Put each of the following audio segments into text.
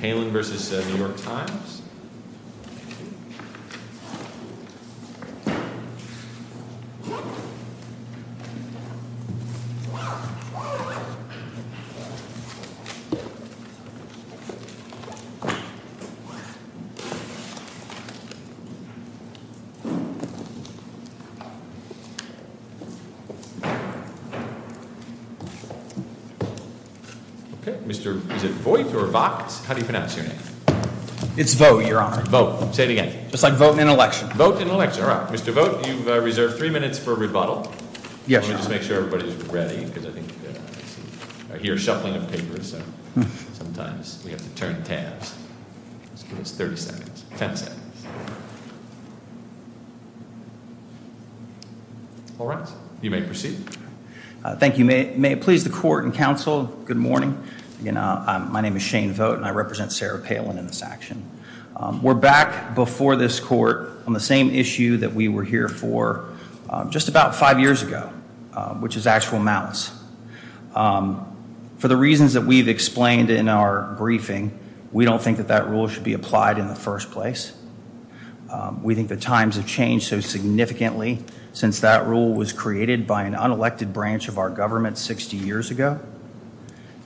This is Palin versus New York Times. Okay, is it Voight or Vox? How do you pronounce your name? It's Voight, Your Honor. Voight. Say it again. Just like vote in an election. Vote in an election. All right. Mr. Voight, you've reserved three minutes for rebuttal. Yes, Your Honor. Let me just make sure everybody's ready, because I think I hear a shuffling of papers. So, sometimes we have to turn tabs. Just give us 30 seconds. 10 seconds. All right. You may proceed. Thank you. May it please the Court and Counsel, good morning. My name is Shane Voight, and I represent Sarah Palin in this action. We're back before this Court on the same issue that we were here for just about five years ago, which is actual malice. For the reasons that we've explained in our briefing, we don't think that that rule should be applied in the first place. We think the times have changed so significantly since that rule was created by an unelected branch of our government 60 years ago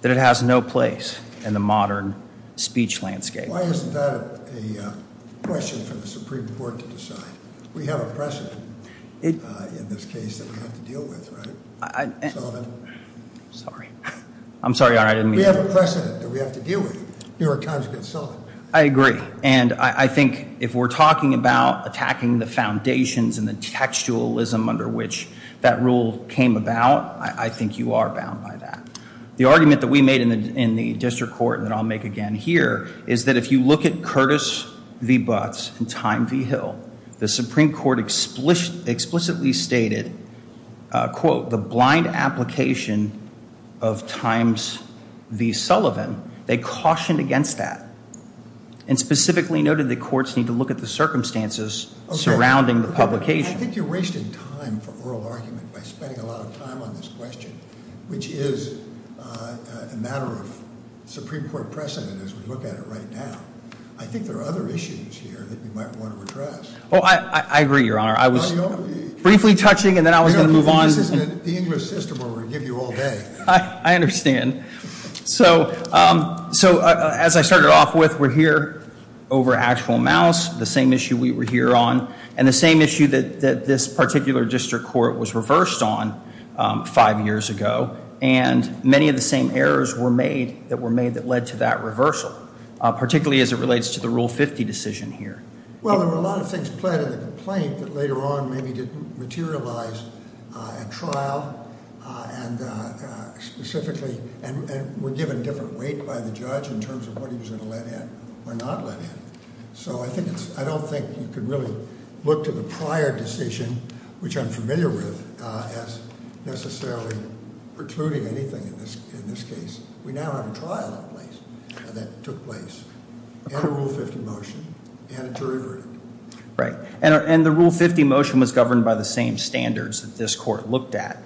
that it has no place in the modern speech landscape. Why isn't that a question for the Supreme Court to decide? We have a precedent in this case that we have to deal with, right? Sullivan? Sorry. I'm sorry, Your Honor, I didn't mean to. We have a precedent that we have to deal with. You're a conjugate, Sullivan. I agree, and I think if we're talking about attacking the foundations and the textualism under which that rule came about, I think you are bound by that. The argument that we made in the district court that I'll make again here is that if you look at Curtis v. Butts and Time v. Hill, the Supreme Court explicitly stated, quote, the blind application of Times v. Sullivan. They cautioned against that and specifically noted that courts need to look at the circumstances surrounding the publication. I think you're wasting time for oral argument by spending a lot of time on this question, which is a matter of Supreme Court precedent as we look at it right now. I think there are other issues here that we might want to address. Oh, I agree, Your Honor. I was briefly touching and then I was going to move on. This isn't the English system where we're going to give you all day. I understand. So as I started off with, we're here over actual mouse, the same issue we were here on, and the same issue that this particular district court was reversed on five years ago, and many of the same errors were made that were made that led to that reversal, particularly as it relates to the Rule 50 decision here. Well, there were a lot of things pled in the complaint that later on maybe didn't materialize at trial and specifically were given different weight by the judge in terms of what he was going to let in or not let in. So I don't think you can really look to the prior decision, which I'm familiar with, as necessarily precluding anything in this case. We now have a trial that took place and a Rule 50 motion and a jury verdict. Right. And the Rule 50 motion was governed by the same standards that this court looked at,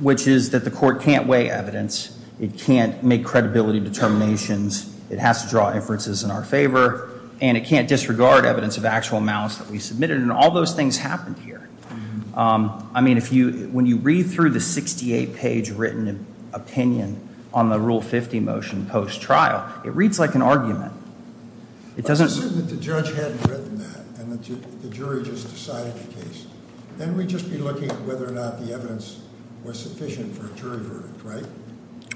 which is that the court can't weigh evidence. It can't make credibility determinations. It has to draw inferences in our favor, and it can't disregard evidence of actual mouse that we submitted, and all those things happened here. I mean, when you read through the 68-page written opinion on the Rule 50 motion post-trial, it reads like an argument. Assume that the judge hadn't written that and the jury just decided the case. Then we'd just be looking at whether or not the evidence was sufficient for a jury verdict, right?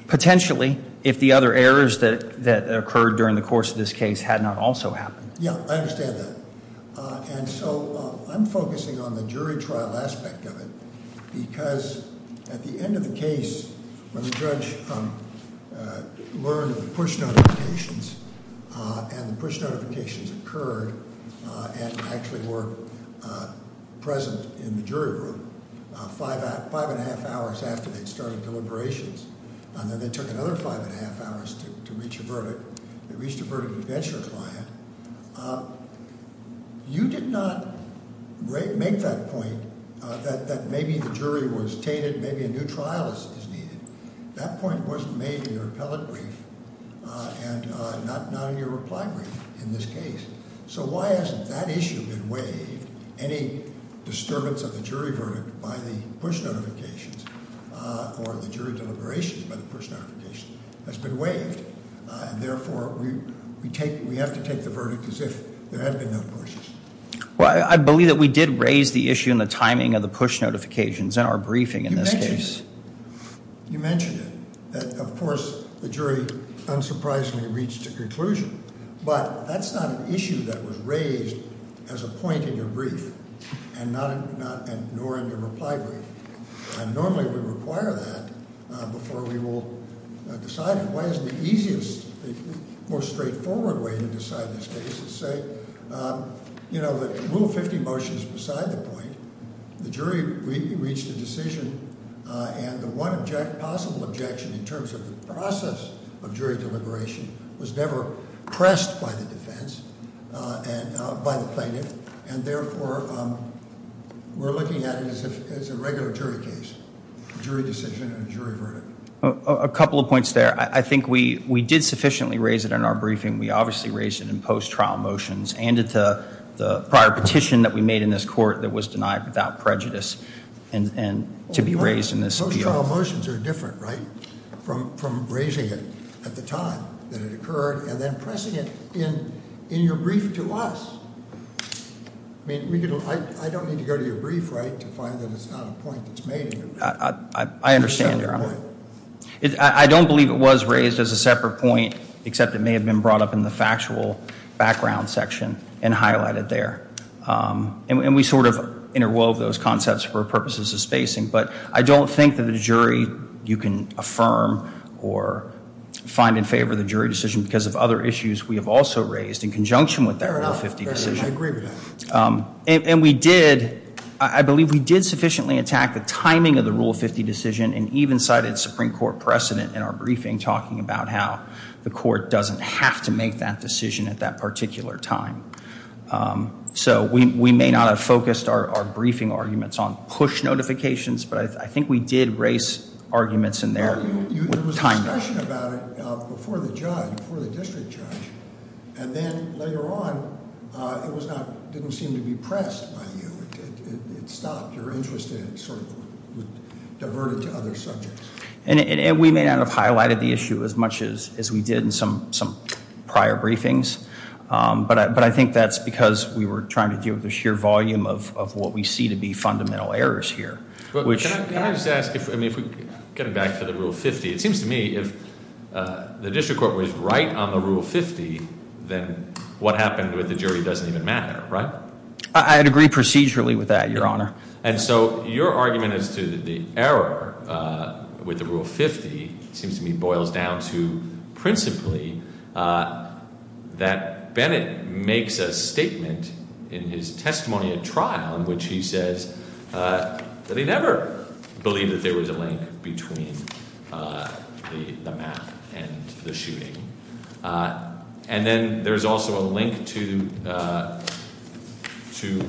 Potentially, if the other errors that occurred during the course of this case had not also happened. Yeah, I understand that. And so I'm focusing on the jury trial aspect of it because at the end of the case, when the judge learned of the push notifications, and the push notifications occurred and actually were present in the jury room, five and a half hours after they'd started deliberations, and then they took another five and a half hours to reach a verdict, they reached a verdict of adventure client, you did not make that point that maybe the jury was tainted, maybe a new trial is needed. That point wasn't made in your appellate brief and not in your reply brief in this case. So why hasn't that issue been waived? Any disturbance of the jury verdict by the push notifications or the jury deliberations by the push notifications has been waived. And therefore, we have to take the verdict as if there had been no pushes. Well, I believe that we did raise the issue in the timing of the push notifications in our briefing in this case. You mentioned it. Of course, the jury unsurprisingly reached a conclusion. But that's not an issue that was raised as a point in your brief and nor in your reply brief. And normally we require that before we will decide it. Why isn't the easiest, the most straightforward way to decide this case is to say, you know, Rule 50 motion is beside the point. The jury reached a decision and the one possible objection in terms of the process of jury deliberation was never pressed by the defense and by the plaintiff. And therefore, we're looking at it as a regular jury case, jury decision and jury verdict. A couple of points there. I think we did sufficiently raise it in our briefing. We obviously raised it in post-trial motions and in the prior petition that we made in this court that was denied without prejudice and to be raised in this appeal. Post-trial motions are different, right, from raising it at the time that it occurred and then pressing it in your brief to us. I mean, I don't need to go to your brief, right, to find that it's not a point that's made. I understand, Your Honor. I don't believe it was raised as a separate point, except it may have been brought up in the factual background section and highlighted there. And we sort of interwove those concepts for purposes of spacing. But I don't think that a jury you can affirm or find in favor of the jury decision because of other issues we have also raised in conjunction with that Rule 50 decision. I agree with that. And we did, I believe we did sufficiently attack the timing of the Rule 50 decision and even cited Supreme Court precedent in our briefing talking about how the court doesn't have to make that decision at that particular time. So we may not have focused our briefing arguments on push notifications, but I think we did raise arguments in there with time. There was a discussion about it before the judge, before the district judge. And then later on, it didn't seem to be pressed by you. It stopped your interest and it sort of diverted to other subjects. And we may not have highlighted the issue as much as we did in some prior briefings. But I think that's because we were trying to deal with the sheer volume of what we see to be fundamental errors here, which- Can I just ask, getting back to the Rule 50, it seems to me if the district court was right on the Rule 50, then what happened with the jury doesn't even matter, right? I'd agree procedurally with that, Your Honor. And so your argument as to the error with the Rule 50 seems to me boils down to principally that Bennett makes a statement in his testimony at trial in which he says that he never believed that there was a link between the math and the shooting. And then there's also a link to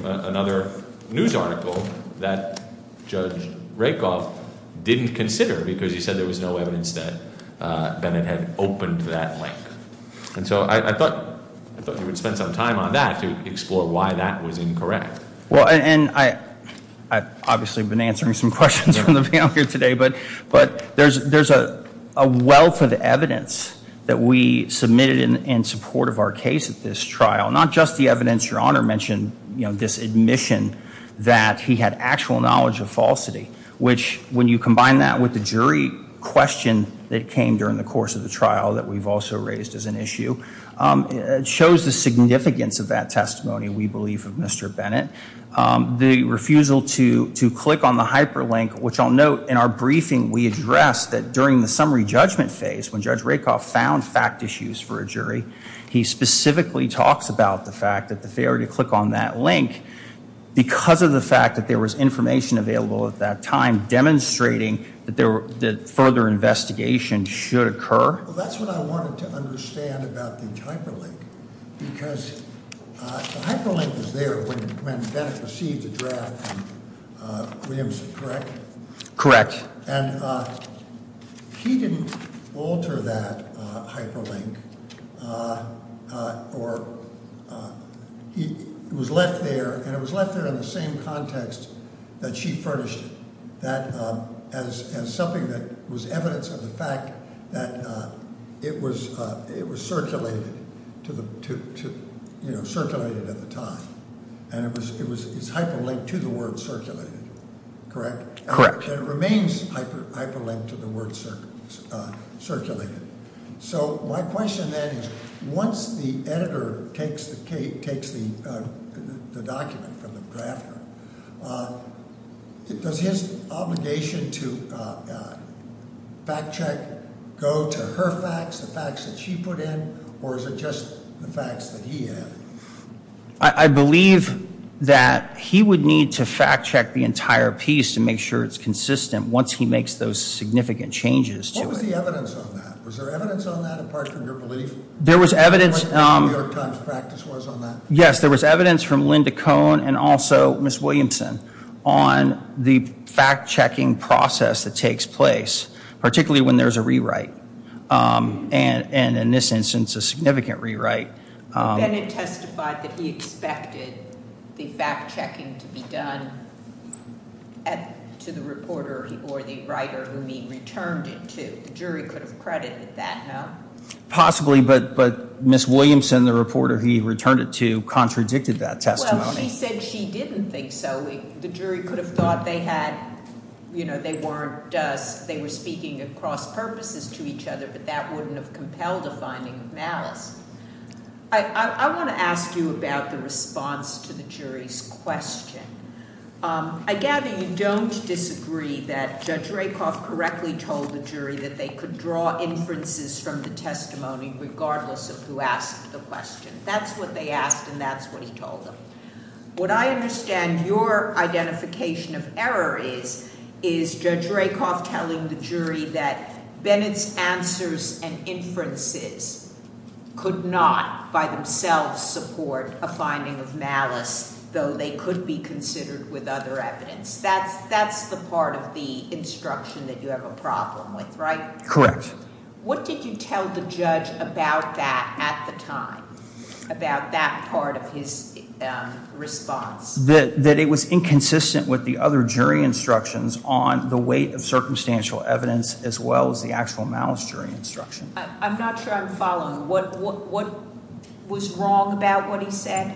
another news article that Judge Rakoff didn't consider because he said there was no evidence that Bennett had opened that link. And so I thought you would spend some time on that to explore why that was incorrect. Well, and I've obviously been answering some questions from the panel here today, but there's a wealth of evidence that we submitted in support of our case at this trial. Not just the evidence, Your Honor mentioned this admission that he had actual knowledge of falsity, which when you combine that with the jury question that came during the course of the trial that we've also raised as an issue, it shows the significance of that testimony, we believe, of Mr. Bennett. The refusal to click on the hyperlink, which I'll note in our briefing we addressed that during the summary judgment phase when Judge Rakoff found fact issues for a jury, he specifically talks about the fact that the failure to click on that link because of the fact that there was information available at that time demonstrating that further investigation should occur. Well, that's what I wanted to understand about the hyperlink because the hyperlink was there when Bennett received the draft from Williamson, correct? Correct. And he didn't alter that hyperlink, or it was left there, and it was left there in the same context that she furnished it, that as something that was evidence of the fact that it was circulated at the time, and it's hyperlinked to the word circulated, correct? Correct. And it remains hyperlinked to the word circulated. So my question then is once the editor takes the document from the drafter, does his obligation to fact check go to her facts, the facts that she put in, or is it just the facts that he added? I believe that he would need to fact check the entire piece to make sure it's consistent once he makes those significant changes to it. What was the evidence on that? Was there evidence on that apart from your belief? There was evidence. What the New York Times practice was on that? Yes, there was evidence from Linda Cohn and also Ms. Williamson on the fact checking process that takes place, particularly when there's a rewrite, and in this instance, a significant rewrite. But Bennett testified that he expected the fact checking to be done to the reporter or the writer whom he returned it to. The jury could have credited that, no? Possibly, but Ms. Williamson, the reporter he returned it to, contradicted that testimony. Well, she said she didn't think so. Possibly. The jury could have thought they were speaking at cross purposes to each other, but that wouldn't have compelled a finding of malice. I want to ask you about the response to the jury's question. I gather you don't disagree that Judge Rakoff correctly told the jury that they could draw inferences from the testimony regardless of who asked the question. That's what they asked, and that's what he told them. What I understand your identification of error is, is Judge Rakoff telling the jury that Bennett's answers and inferences could not by themselves support a finding of malice, though they could be considered with other evidence. That's the part of the instruction that you have a problem with, right? Correct. What did you tell the judge about that at the time, about that part of his response? That it was inconsistent with the other jury instructions on the weight of circumstantial evidence as well as the actual malice jury instruction. I'm not sure I'm following. What was wrong about what he said?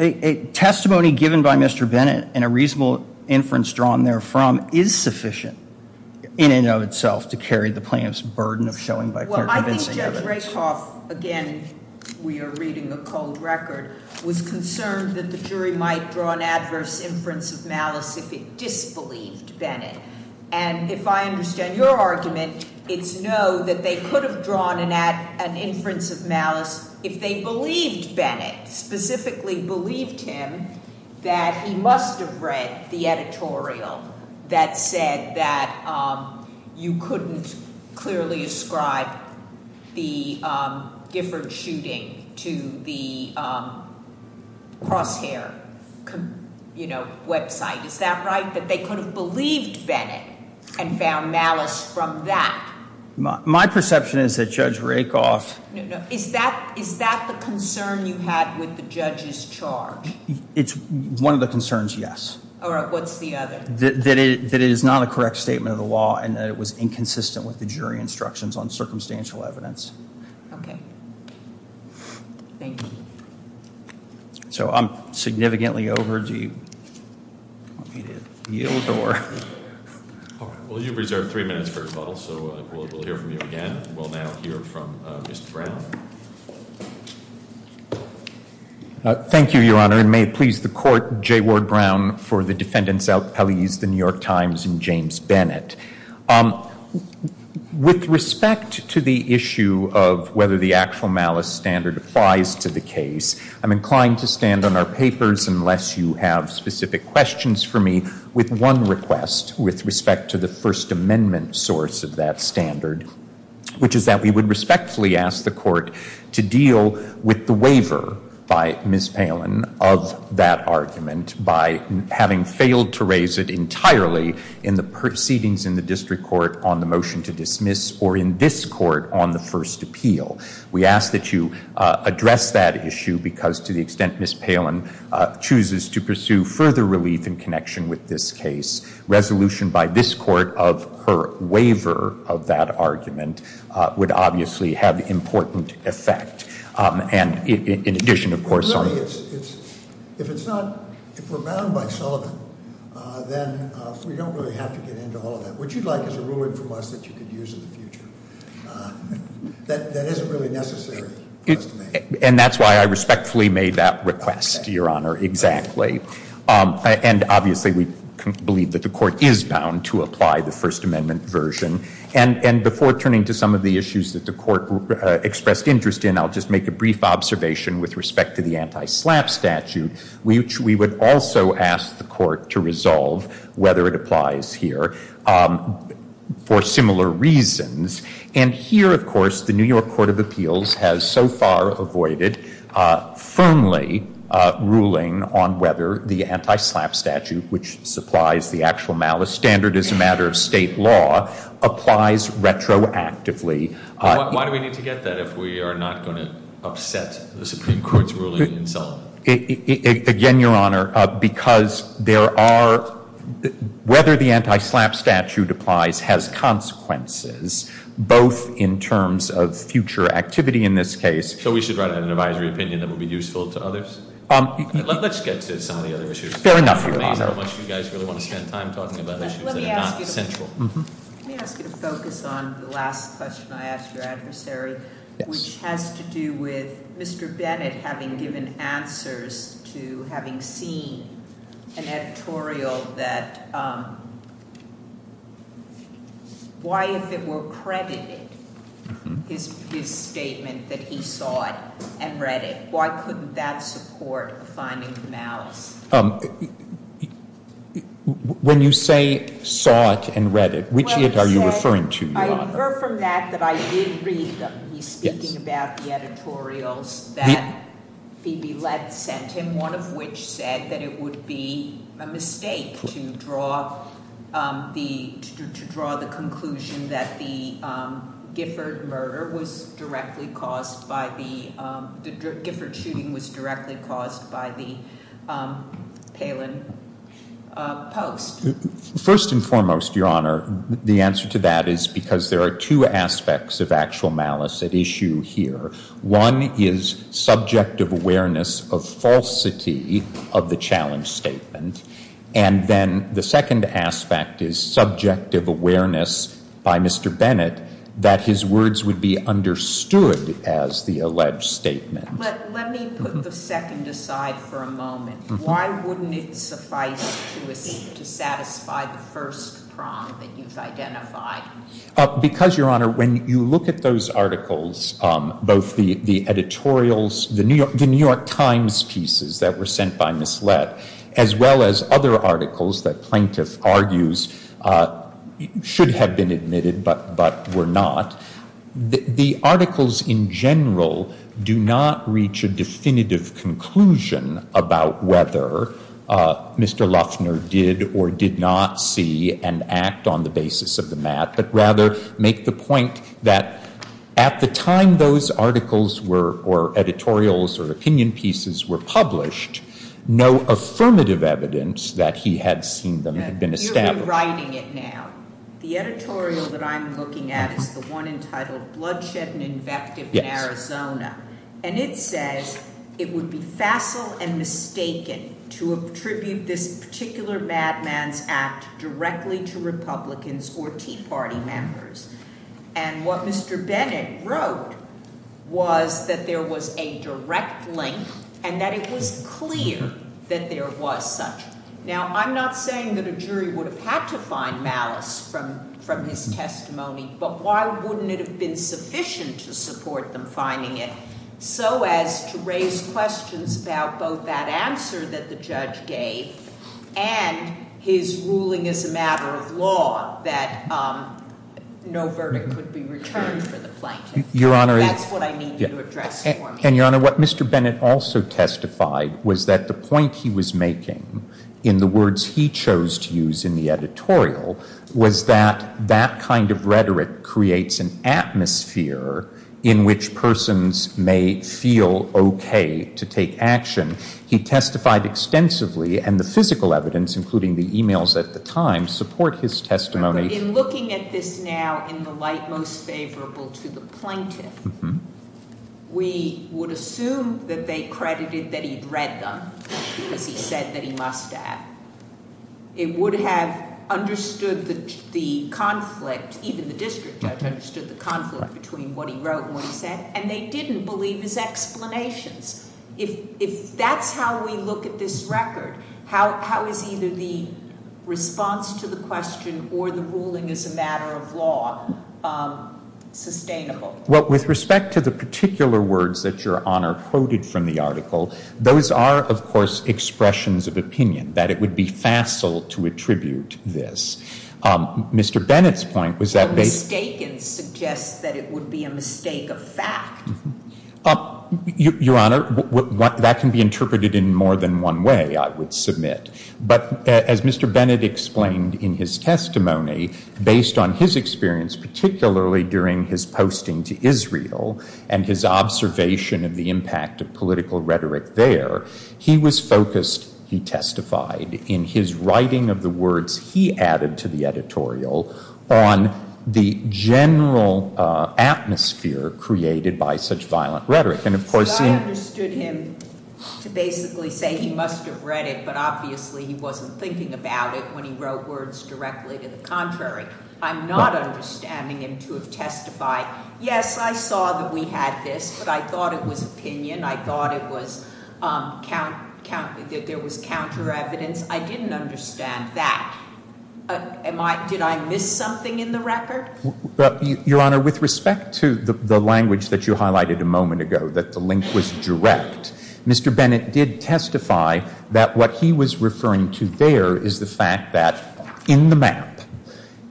A testimony given by Mr. Bennett and a reasonable inference drawn therefrom is sufficient in and of itself to carry the plaintiff's burden of showing by convincing evidence. Well, I think Judge Rakoff, again, we are reading a cold record, was concerned that the jury might draw an adverse inference of malice if it disbelieved Bennett. And if I understand your argument, it's no, that they could have drawn an inference of malice if they believed Bennett, specifically believed him, that he must have read the editorial that said that you couldn't clearly ascribe the Giffords shooting to the Crosshair website. Is that right, that they could have believed Bennett and found malice from that? My perception is that Judge Rakoff... Is that the concern you had with the judge's charge? It's one of the concerns, yes. All right. What's the other? That it is not a correct statement of the law and that it was inconsistent with the jury instructions on circumstantial evidence. Okay. Thank you. So I'm significantly over. Do you want me to yield or...? Well, you've reserved three minutes for rebuttal, so we'll hear from you again. We'll now hear from Mr. Brown. Thank you, Your Honor, and may it please the Court, J. Ward Brown for the defendants' appellees, the New York Times, and James Bennett. With respect to the issue of whether the actual malice standard applies to the case, I'm inclined to stand on our papers, unless you have specific questions for me, with one request with respect to the First Amendment source of that standard, which is that we would respectfully ask the Court to deal with the waiver by Ms. Palin of that argument by having failed to raise it entirely in the proceedings in the District Court on the motion to dismiss or in this Court on the first appeal. We ask that you address that issue because, to the extent Ms. Palin chooses to pursue further relief in connection with this case, resolution by this Court of her waiver of that argument would obviously have important effect. In addition, of course... If we're bound by Sullivan, then we don't really have to get into all of that. What you'd like is a ruling from us that you could use in the future. That isn't really necessary for us to make. And that's why I respectfully made that request, Your Honor, exactly. And obviously we believe that the Court is bound to apply the First Amendment version. And before turning to some of the issues that the Court expressed interest in, I'll just make a brief observation with respect to the anti-SLAPP statute, which we would also ask the Court to resolve whether it applies here for similar reasons. And here, of course, the New York Court of Appeals has so far avoided firmly ruling on whether the anti-SLAPP statute, which supplies the actual malice standard as a matter of state law, applies retroactively. Why do we need to get that if we are not going to upset the Supreme Court's ruling in Sullivan? Again, Your Honor, because whether the anti-SLAPP statute applies has consequences, both in terms of future activity in this case... So we should write out an advisory opinion that would be useful to others? Let's get to some of the other issues. Fair enough, Your Honor. I don't know how much you guys really want to spend time talking about issues that are not central. Let me ask you to focus on the last question I asked your adversary, which has to do with Mr. Bennett having given answers to having seen an editorial that, why if it were credited, his statement that he saw it and read it, why couldn't that support a finding of malice? When you say saw it and read it, which it are you referring to, Your Honor? I refer from that that I did read that he's speaking about the editorials that Phoebe Lett sent him, one of which said that it would be a mistake to draw the conclusion that the Gifford murder was directly caused by the Palin post. First and foremost, Your Honor, the answer to that is because there are two aspects of actual malice at issue here. One is subjective awareness of falsity of the challenge statement, and then the second aspect is subjective awareness by Mr. Bennett that his words would be understood as the alleged statement. But let me put the second aside for a moment. Why wouldn't it suffice to satisfy the first prong that you've identified? Because, Your Honor, when you look at those articles, both the editorials, the New York Times pieces that were sent by Ms. Lett, as well as other articles that plaintiff argues should have been admitted but were not, the articles in general do not reach a definitive conclusion about whether Mr. Luffner did or did not see and act on the basis of the mat, but rather make the point that at the time those articles or editorials or opinion pieces were published, no affirmative evidence that he had seen them had been established. You're rewriting it now. The editorial that I'm looking at is the one entitled Bloodshed and Invective in Arizona, and it says it would be facile and mistaken to attribute this particular madman's act directly to Republicans or Tea Party members. And what Mr. Bennett wrote was that there was a direct link and that it was clear that there was such. Now, I'm not saying that a jury would have had to find malice from his testimony, but why wouldn't it have been sufficient to support them finding it so as to raise questions about both that answer that the judge gave and his ruling as a matter of law that no verdict could be returned for the plaintiff. Your Honor, That's what I need you to address for me. And, Your Honor, what Mr. Bennett also testified was that the point he was making in the words he chose to use in the editorial was that that kind of rhetoric creates an atmosphere in which persons may feel OK to take action. He testified extensively, and the physical evidence, including the emails at the time, support his testimony. But in looking at this now in the light most favorable to the plaintiff, we would assume that they credited that he'd read them because he said that he must have. It would have understood the conflict, even the district judge understood the conflict between what he wrote and what he said, and they didn't believe his explanations. If that's how we look at this record, how is either the response to the question or the ruling as a matter of law sustainable? Well, with respect to the particular words that Your Honor quoted from the article, those are, of course, expressions of opinion, that it would be facile to attribute this. Mr. Bennett's point was that they Mistaken suggests that it would be a mistake of fact. Your Honor, that can be interpreted in more than one way, I would submit. But as Mr. Bennett explained in his testimony, based on his experience, particularly during his posting to Israel and his observation of the impact of political rhetoric there, he was focused, he testified, in his writing of the words he added to the editorial on the general atmosphere created by such violent rhetoric. But I understood him to basically say he must have read it, but obviously he wasn't thinking about it when he wrote words directly to the contrary. I'm not understanding him to have testified, yes, I saw that we had this, but I thought it was opinion, I thought there was counter evidence. I didn't understand that. Did I miss something in the record? Your Honor, with respect to the language that you highlighted a moment ago, that the link was direct, Mr. Bennett did testify that what he was referring to there is the fact that in the map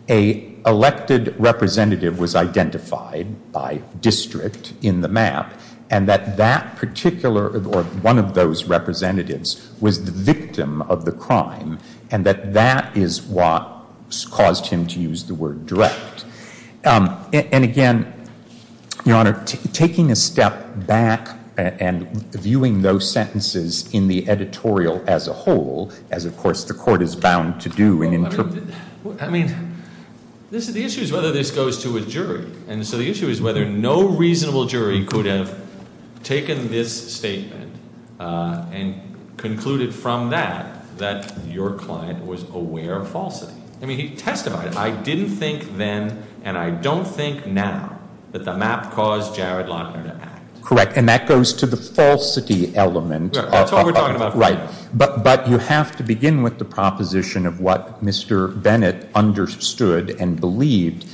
an elected representative was identified by district in the map and that that particular, or one of those representatives, was the victim of the crime and that that is what caused him to use the word direct. And again, Your Honor, taking a step back and viewing those sentences in the editorial as a whole, as, of course, the Court is bound to do in interpretation. I mean, the issue is whether this goes to a jury, and so the issue is whether no reasonable jury could have taken this statement and concluded from that that your client was aware of falsity. I mean, he testified, I didn't think then and I don't think now that the map caused Jared Lochner to act. Correct, and that goes to the falsity element. That's what we're talking about. Right, but you have to begin with the proposition of what Mr. Bennett understood and believed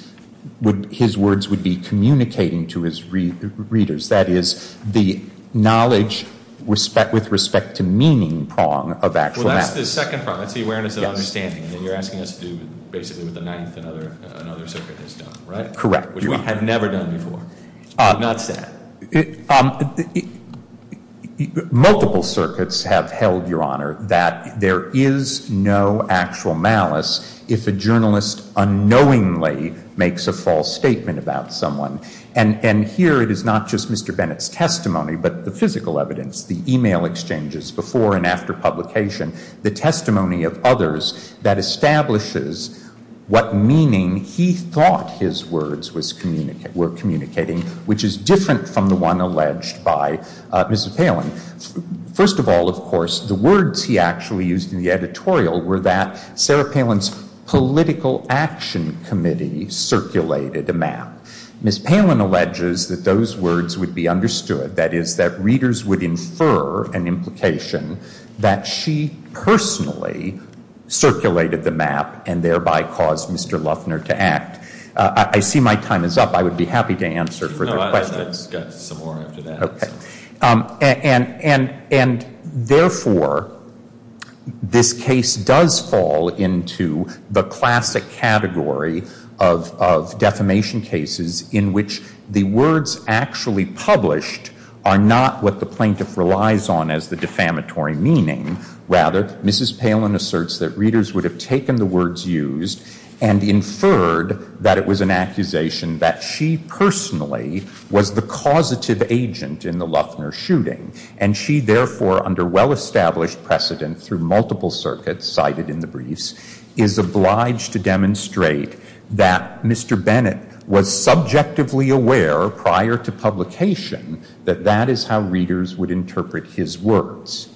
his words would be communicating to his readers. That is, the knowledge with respect to meaning prong of actual malice. Well, that's the second prong. That's the awareness of understanding that you're asking us to do basically with the ninth and other circuit that's done, right? Correct. Which we have never done before. I'm not sad. Multiple circuits have held, Your Honor, that there is no actual malice if a journalist unknowingly makes a false statement about someone. And here it is not just Mr. Bennett's testimony, but the physical evidence, the e-mail exchanges before and after publication, the testimony of others that establishes what meaning he thought his words were communicating, which is different from the one alleged by Mrs. Palin. First of all, of course, the words he actually used in the editorial were that Sarah Palin's political action committee circulated a map. Mrs. Palin alleges that those words would be understood. That is, that readers would infer an implication that she personally circulated the map and thereby caused Mr. Luffner to act. I see my time is up. I would be happy to answer further questions. No, I got some more after that. And, therefore, this case does fall into the classic category of defamation cases in which the words actually published are not what the plaintiff relies on as the defamatory meaning. Rather, Mrs. Palin asserts that readers would have taken the words used and inferred that it was an accusation that she personally was the causative agent in the Luffner shooting. And she, therefore, under well-established precedent through multiple circuits cited in the briefs, is obliged to demonstrate that Mr. Bennett was subjectively aware prior to publication that that is how readers would interpret his words.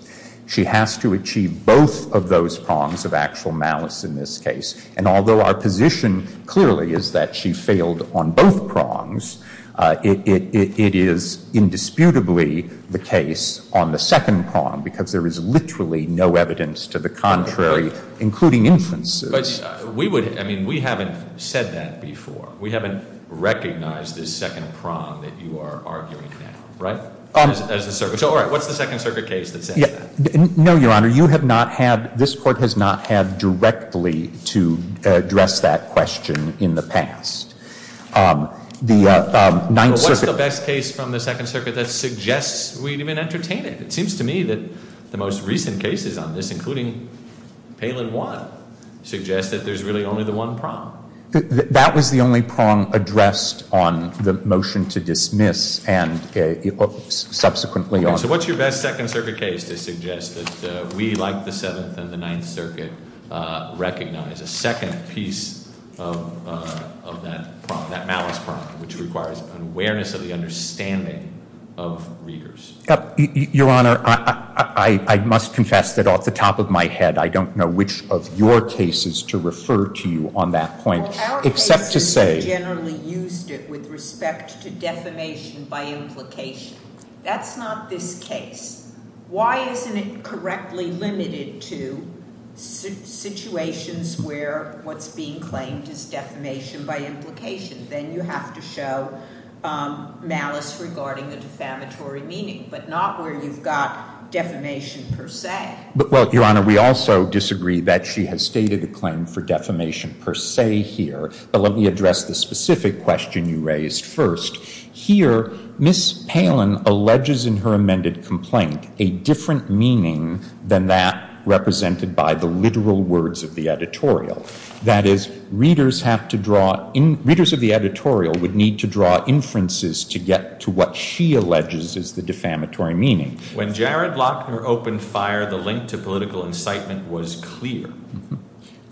She has to achieve both of those prongs of actual malice in this case and although our position clearly is that she failed on both prongs, it is indisputably the case on the second prong because there is literally no evidence to the contrary, including inferences. But we would, I mean, we haven't said that before. We haven't recognized this second prong that you are arguing now, right? As a circuit. So, all right, what's the Second Circuit case that says that? No, Your Honor. You have not had, this Court has not had directly to address that question in the past. The Ninth Circuit. What's the best case from the Second Circuit that suggests we'd even entertain it? It seems to me that the most recent cases on this, including Palin 1, suggest that there's really only the one prong. That was the only prong addressed on the motion to dismiss and subsequently on. So what's your best Second Circuit case to suggest that we, like the Seventh and the Ninth Circuit, recognize a second piece of that prong, that malice prong, which requires an awareness of the understanding of readers? Your Honor, I must confess that off the top of my head, I don't know which of your cases to refer to you on that point, except to say. Well, our cases generally used it with respect to defamation by implication. That's not this case. Why isn't it correctly limited to situations where what's being claimed is defamation by implication? Then you have to show malice regarding the defamatory meaning, but not where you've got defamation per se. Well, Your Honor, we also disagree that she has stated a claim for defamation per se here. But let me address the specific question you raised first. Here, Ms. Palin alleges in her amended complaint a different meaning than that represented by the literal words of the editorial. That is, readers of the editorial would need to draw inferences to get to what she alleges is the defamatory meaning. When Jared Lochner opened fire, the link to political incitement was clear.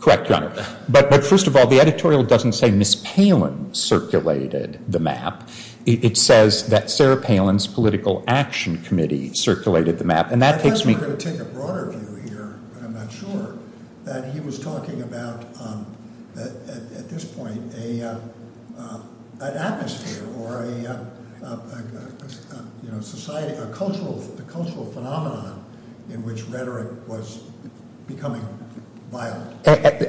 Correct, Your Honor. But first of all, the editorial doesn't say Ms. Palin circulated the map. It says that Sarah Palin's political action committee circulated the map, and that takes me- I guess we're going to take a broader view here, but I'm not sure, that he was talking about, at this point, an atmosphere or a society, a cultural phenomenon in which rhetoric was becoming violent.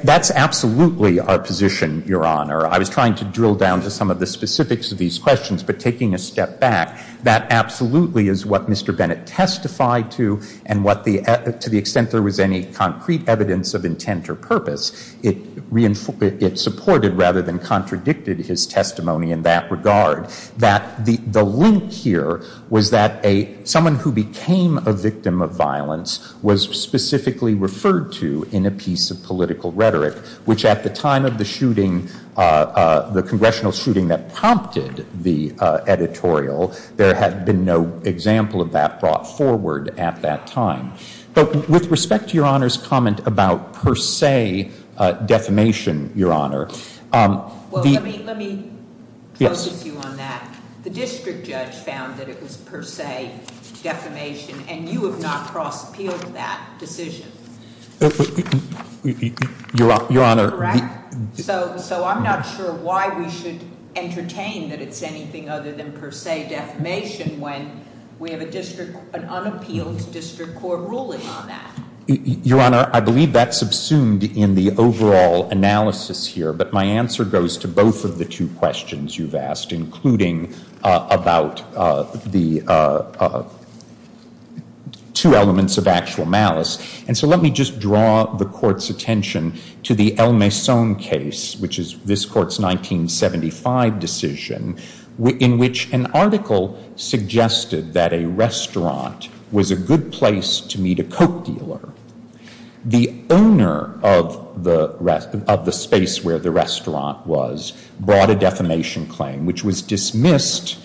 That's absolutely our position, Your Honor. I was trying to drill down to some of the specifics of these questions, but taking a step back, that absolutely is what Mr. Bennett testified to, and to the extent there was any concrete evidence of intent or purpose, it supported rather than contradicted his testimony in that regard. The link here was that someone who became a victim of violence was specifically referred to in a piece of political rhetoric, which at the time of the congressional shooting that prompted the editorial, there had been no example of that brought forward at that time. But with respect to Your Honor's comment about, per se, defamation, Your Honor- Let me focus you on that. The district judge found that it was per se defamation, and you have not cross-appealed that decision. Your Honor- Correct? So I'm not sure why we should entertain that it's anything other than per se defamation when we have an unappealed district court ruling on that. Your Honor, I believe that subsumed in the overall analysis here, but my answer goes to both of the two questions you've asked, including about the two elements of actual malice. And so let me just draw the Court's attention to the El Maison case, which is this Court's 1975 decision, in which an article suggested that a restaurant was a good place to meet a Coke dealer. The owner of the space where the restaurant was brought a defamation claim, which was dismissed,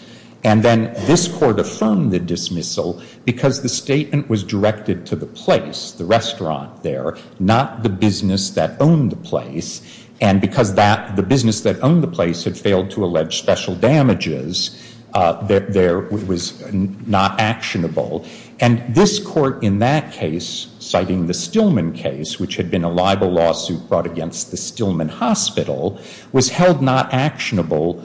and then this Court affirmed the dismissal because the statement was directed to the place, the restaurant there, not the business that owned the place. And because the business that owned the place had failed to allege special damages, it was not actionable. And this Court in that case, citing the Stillman case, which had been a libel lawsuit brought against the Stillman Hospital, was held not actionable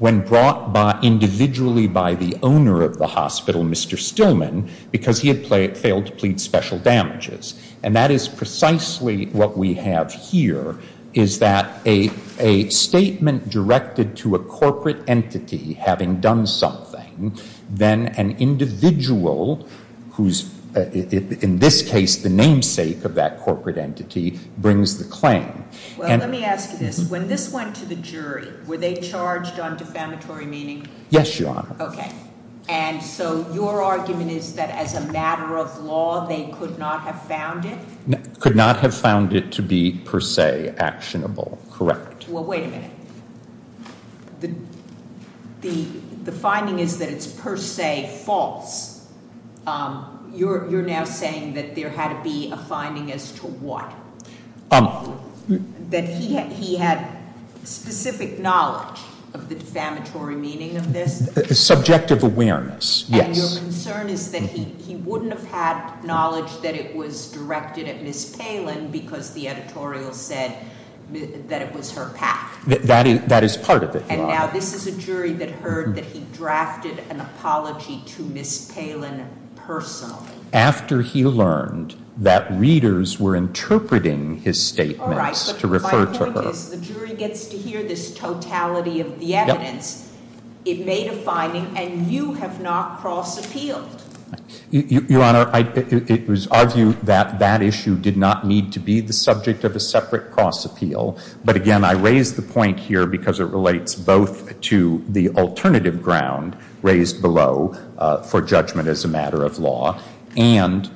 when brought individually by the owner of the hospital, Mr. Stillman, because he had failed to plead special damages. And that is precisely what we have here, is that a statement directed to a corporate entity having done something, then an individual who's, in this case, the namesake of that corporate entity, brings the claim. Well, let me ask you this. When this went to the jury, were they charged on defamatory meaning? Yes, Your Honor. Okay. And so your argument is that as a matter of law, they could not have found it? Could not have found it to be per se actionable, correct? Well, wait a minute. The finding is that it's per se false. You're now saying that there had to be a finding as to what? That he had specific knowledge of the defamatory meaning of this? Subjective awareness, yes. And your concern is that he wouldn't have had knowledge that it was directed at Ms. Palin because the editorial said that it was her path? That is part of it, Your Honor. And now this is a jury that heard that he drafted an apology to Ms. Palin personally? After he learned that readers were interpreting his statements to refer to her. The jury gets to hear this totality of the evidence. It made a finding, and you have not cross-appealed. Your Honor, it was our view that that issue did not need to be the subject of a separate cross-appeal. But again, I raise the point here because it relates both to the alternative ground raised below for judgment as a matter of law and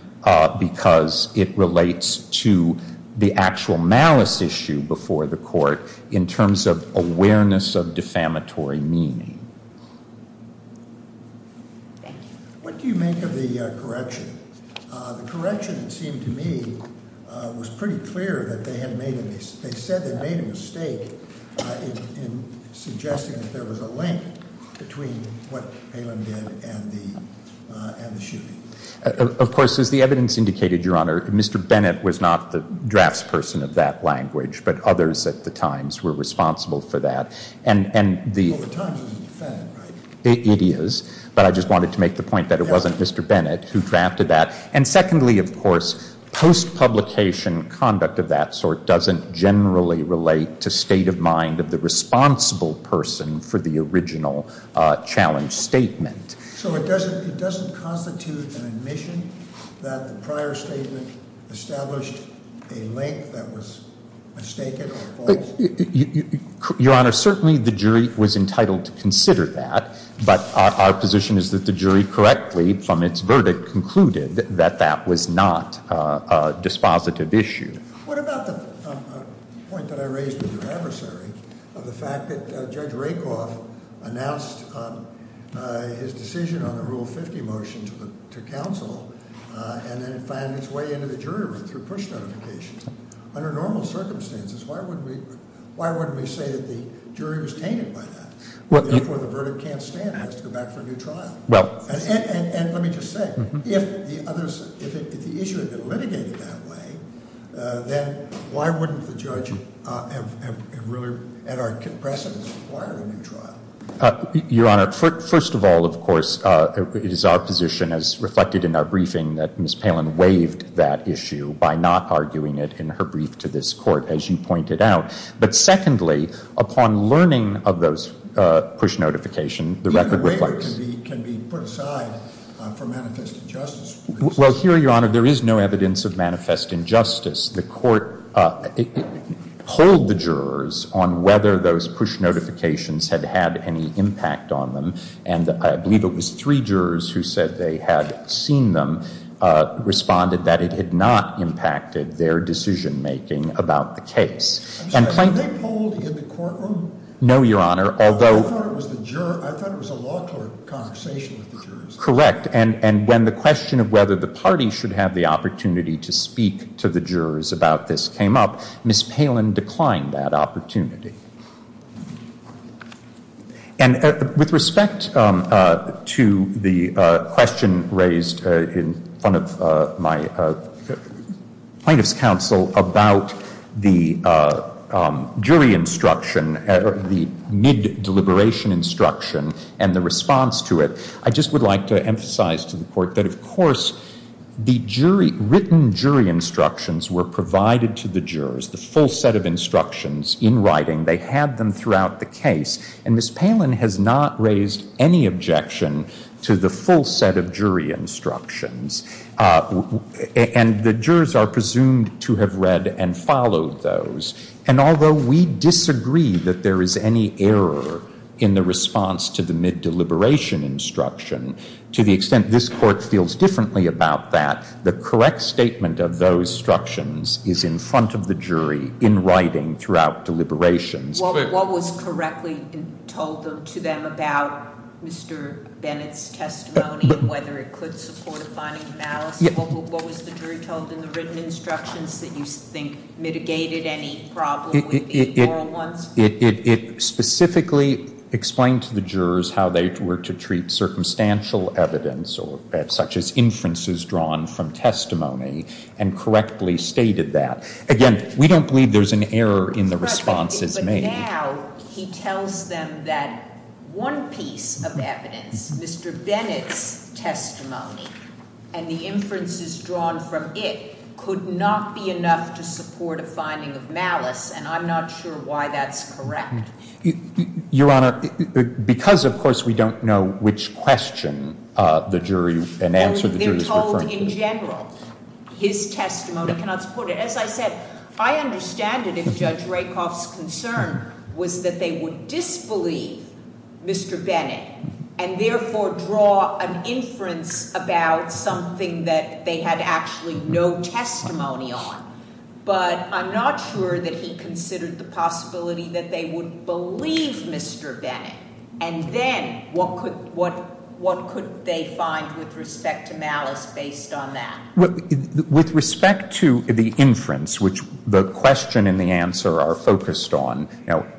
because it relates to the actual malice issue before the court in terms of awareness of defamatory meaning. Thank you. What do you make of the correction? The correction, it seemed to me, was pretty clear that they had made a mistake. in suggesting that there was a link between what Palin did and the shooting. Of course, as the evidence indicated, Your Honor, Mr. Bennett was not the draftsperson of that language, but others at the Times were responsible for that. Well, the Times wasn't a fan, right? It is, but I just wanted to make the point that it wasn't Mr. Bennett who drafted that. And secondly, of course, post-publication conduct of that sort doesn't generally relate to state of mind of the responsible person for the original challenge statement. So it doesn't constitute an admission that the prior statement established a link that was mistaken or false? Your Honor, certainly the jury was entitled to consider that, but our position is that the jury correctly, from its verdict, concluded that that was not a dispositive issue. What about the point that I raised with your adversary of the fact that Judge Rakoff announced his decision on the Rule 50 motion to counsel and then found its way into the jury room through push notification? Under normal circumstances, why wouldn't we say that the jury was tainted by that? Therefore, the verdict can't stand and has to go back for a new trial. And let me just say, if the issue had been litigated that way, then why wouldn't the judge have really, at our compression, required a new trial? Your Honor, first of all, of course, it is our position, as reflected in our briefing, that Ms. Palin waived that issue by not arguing it in her brief to this Court, as you pointed out. But secondly, upon learning of those push notification, the record reflects. The waiver can be put aside for manifest injustice. Well, here, Your Honor, there is no evidence of manifest injustice. The Court polled the jurors on whether those push notifications had had any impact on them, and I believe it was three jurors who said they had seen them, responded that it had not impacted their decision making about the case. Were they polled in the courtroom? No, Your Honor. I thought it was a law court conversation with the jurors. Correct. And when the question of whether the party should have the opportunity to speak to the jurors about this came up, Ms. Palin declined that opportunity. And with respect to the question raised in front of my plaintiff's counsel about the jury instruction, the mid-deliberation instruction, and the response to it, I just would like to emphasize to the Court that, of course, the written jury instructions were provided to the jurors, the full set of instructions in writing. They had them throughout the case. And Ms. Palin has not raised any objection to the full set of jury instructions, and the jurors are presumed to have read and followed those. And although we disagree that there is any error in the response to the mid-deliberation instruction, to the extent this Court feels differently about that, the correct statement of those instructions is in front of the jury in writing throughout deliberations. What was correctly told to them about Mr. Bennett's testimony and whether it could support finding malice? What was the jury told in the written instructions that you think mitigated any problem with the oral ones? It specifically explained to the jurors how they were to treat circumstantial evidence, such as inferences drawn from testimony, and correctly stated that. Again, we don't believe there's an error in the responses made. But now he tells them that one piece of evidence, Mr. Bennett's testimony, and the inferences drawn from it could not be enough to support a finding of malice, and I'm not sure why that's correct. Your Honor, because of course we don't know which question the jury and answer the jury is referring to. They're told in general his testimony cannot support it. As I said, I understand it if Judge Rakoff's concern was that they would disbelieve Mr. Bennett and therefore draw an inference about something that they had actually no testimony on. But I'm not sure that he considered the possibility that they would believe Mr. Bennett, and then what could they find with respect to malice based on that? With respect to the inference, which the question and the answer are focused on,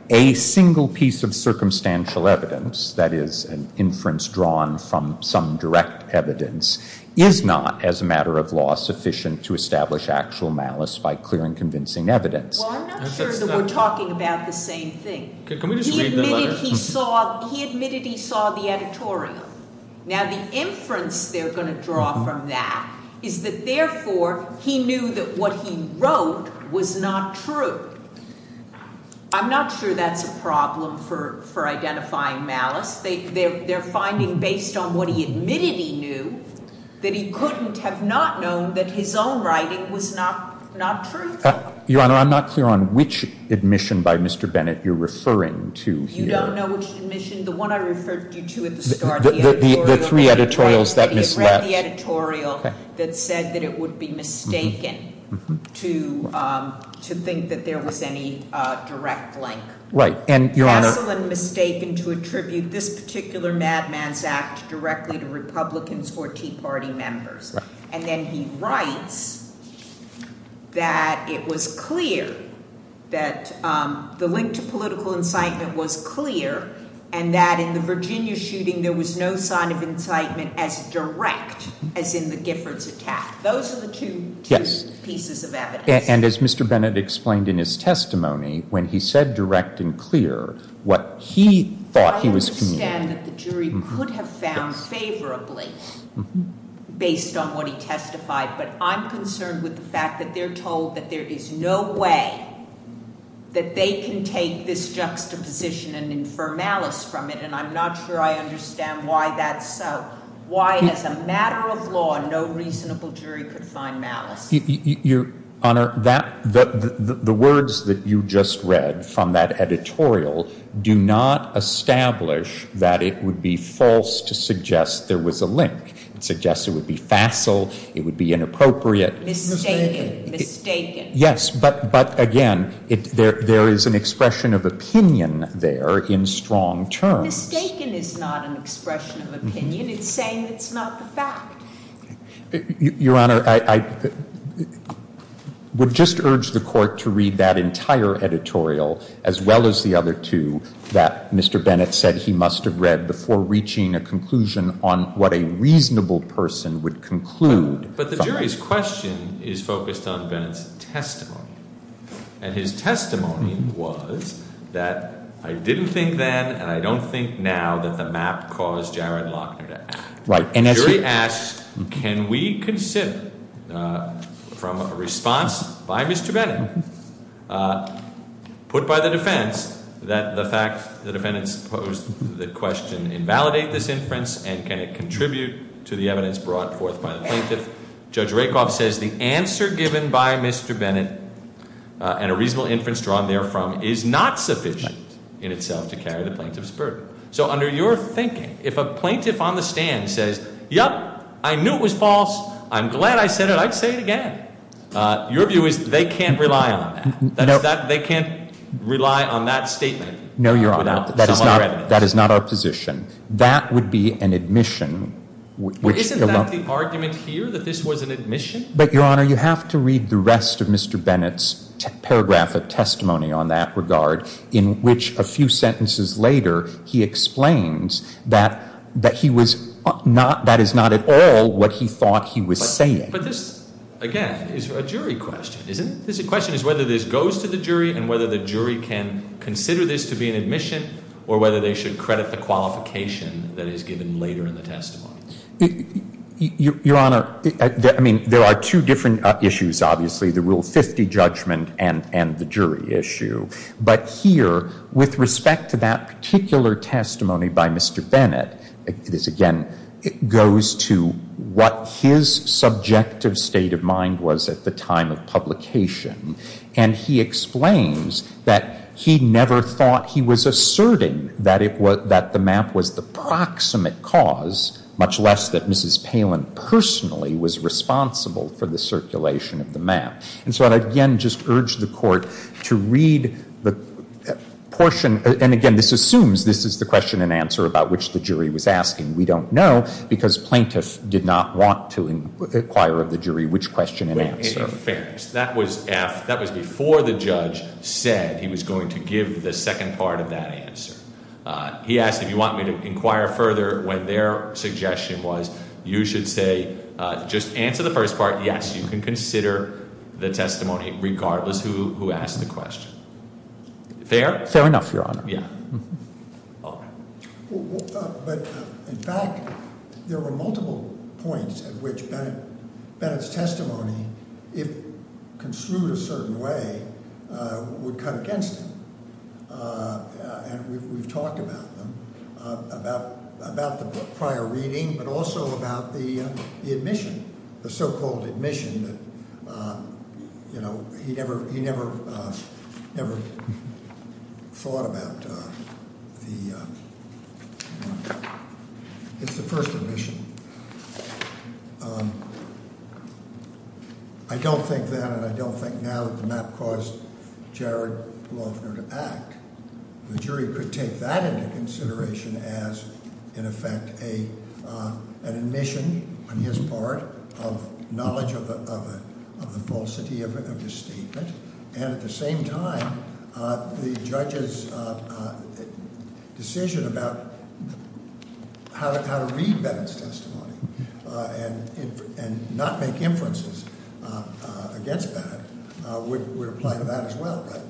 a single piece of circumstantial evidence, that is an inference drawn from some direct evidence, is not, as a matter of law, sufficient to establish actual malice by clearing convincing evidence. Well, I'm not sure that we're talking about the same thing. He admitted he saw the editorial. Now, the inference they're going to draw from that is that, therefore, he knew that what he wrote was not true. I'm not sure that's a problem for identifying malice. They're finding, based on what he admitted he knew, that he couldn't have not known that his own writing was not truthful. Your Honor, I'm not clear on which admission by Mr. Bennett you're referring to here. You don't know which admission? The one I referred you to at the start. The three editorials that misled. He had read the editorial that said that it would be mistaken to think that there was any direct link. Right. And, Your Honor. Also mistaken to attribute this particular madman's act directly to Republicans or Tea Party members. Right. And then he writes that it was clear that the link to political incitement was clear, and that in the Virginia shooting there was no sign of incitement as direct as in the Giffords attack. Those are the two pieces of evidence. And as Mr. Bennett explained in his testimony, when he said direct and clear, what he thought he was communicating. I understand that the jury could have found favorably based on what he testified, but I'm concerned with the fact that they're told that there is no way that they can take this juxtaposition and infer malice from it, and I'm not sure I understand why that's so. Why, as a matter of law, no reasonable jury could find malice? Your Honor, the words that you just read from that editorial do not establish that it would be false to suggest there was a link. It suggests it would be facile, it would be inappropriate. Mistaken. Mistaken. Yes, but again, there is an expression of opinion there in strong terms. Mistaken is not an expression of opinion. It's saying it's not the fact. Your Honor, I would just urge the court to read that entire editorial as well as the other two that Mr. Bennett said he must have read before reaching a conclusion on what a reasonable person would conclude. But the jury's question is focused on Bennett's testimony. And his testimony was that I didn't think then and I don't think now that the map caused Jared Lochner to act. The jury asks, can we consider from a response by Mr. Bennett, put by the defense, that the fact the defendants posed the question invalidate this inference and can it contribute to the evidence brought forth by the plaintiff? Judge Rakoff says the answer given by Mr. Bennett and a reasonable inference drawn therefrom is not sufficient in itself to carry the plaintiff's burden. So under your thinking, if a plaintiff on the stand says, yep, I knew it was false. I'm glad I said it. I'd say it again. Your view is they can't rely on that. They can't rely on that statement. No, Your Honor. That is not our position. That would be an admission. Isn't that the argument here that this was an admission? But, Your Honor, you have to read the rest of Mr. Bennett's paragraph of testimony on that regard in which a few sentences later he explains that he was not, that is not at all what he thought he was saying. But this, again, is a jury question, isn't it? This question is whether this goes to the jury and whether the jury can consider this to be an admission or whether they should credit the qualification that is given later in the testimony. Your Honor, I mean, there are two different issues, obviously, the Rule 50 judgment and the jury issue. But here, with respect to that particular testimony by Mr. Bennett, this, again, goes to what his subjective state of mind was at the time of publication. And he explains that he never thought he was asserting that the map was the proximate cause, much less that Mrs. Palin personally was responsible for the circulation of the map. And so I, again, just urge the Court to read the portion. And, again, this assumes this is the question and answer about which the jury was asking. We don't know because plaintiffs did not want to inquire of the jury which question and answer. Fairness. That was before the judge said he was going to give the second part of that answer. He asked if you want me to inquire further when their suggestion was you should say just answer the first part. Yes, you can consider the testimony regardless who asked the question. Fair? Fair enough, Your Honor. Yeah. All right. But, in fact, there were multiple points at which Bennett's testimony, if construed a certain way, would cut against him. And we've talked about them, about the prior reading, but also about the admission, the so-called admission. You know, he never thought about the – it's the first admission. I don't think then and I don't think now that the map caused Jared Loeffner to act. The jury could take that into consideration as, in effect, an admission on his part of knowledge of the falsity of his statement. And at the same time, the judge's decision about how to read Bennett's testimony and not make inferences against that would apply to that as well, right?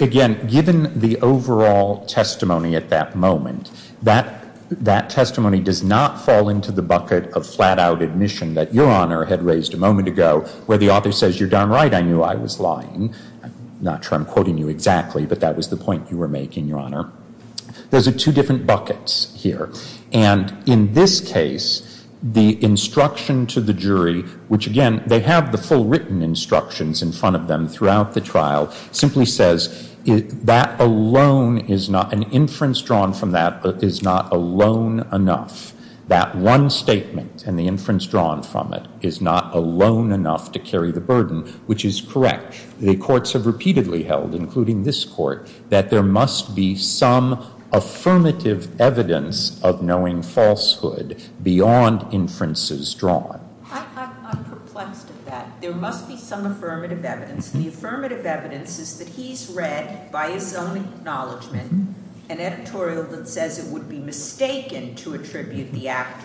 Again, given the overall testimony at that moment, that testimony does not fall into the bucket of flat-out admission that Your Honor had raised a moment ago, where the author says, you're darn right, I knew I was lying. I'm not sure I'm quoting you exactly, but that was the point you were making, Your Honor. Those are two different buckets here. And in this case, the instruction to the jury, which again, they have the full written instructions in front of them throughout the trial, simply says that alone is not – an inference drawn from that is not alone enough. That one statement and the inference drawn from it is not alone enough to carry the burden, which is correct. The courts have repeatedly held, including this court, that there must be some affirmative evidence of knowing falsehood beyond inferences drawn. I'm perplexed at that. There must be some affirmative evidence. The affirmative evidence is that he's read by his own acknowledgment an editorial that says it would be mistaken to attribute the act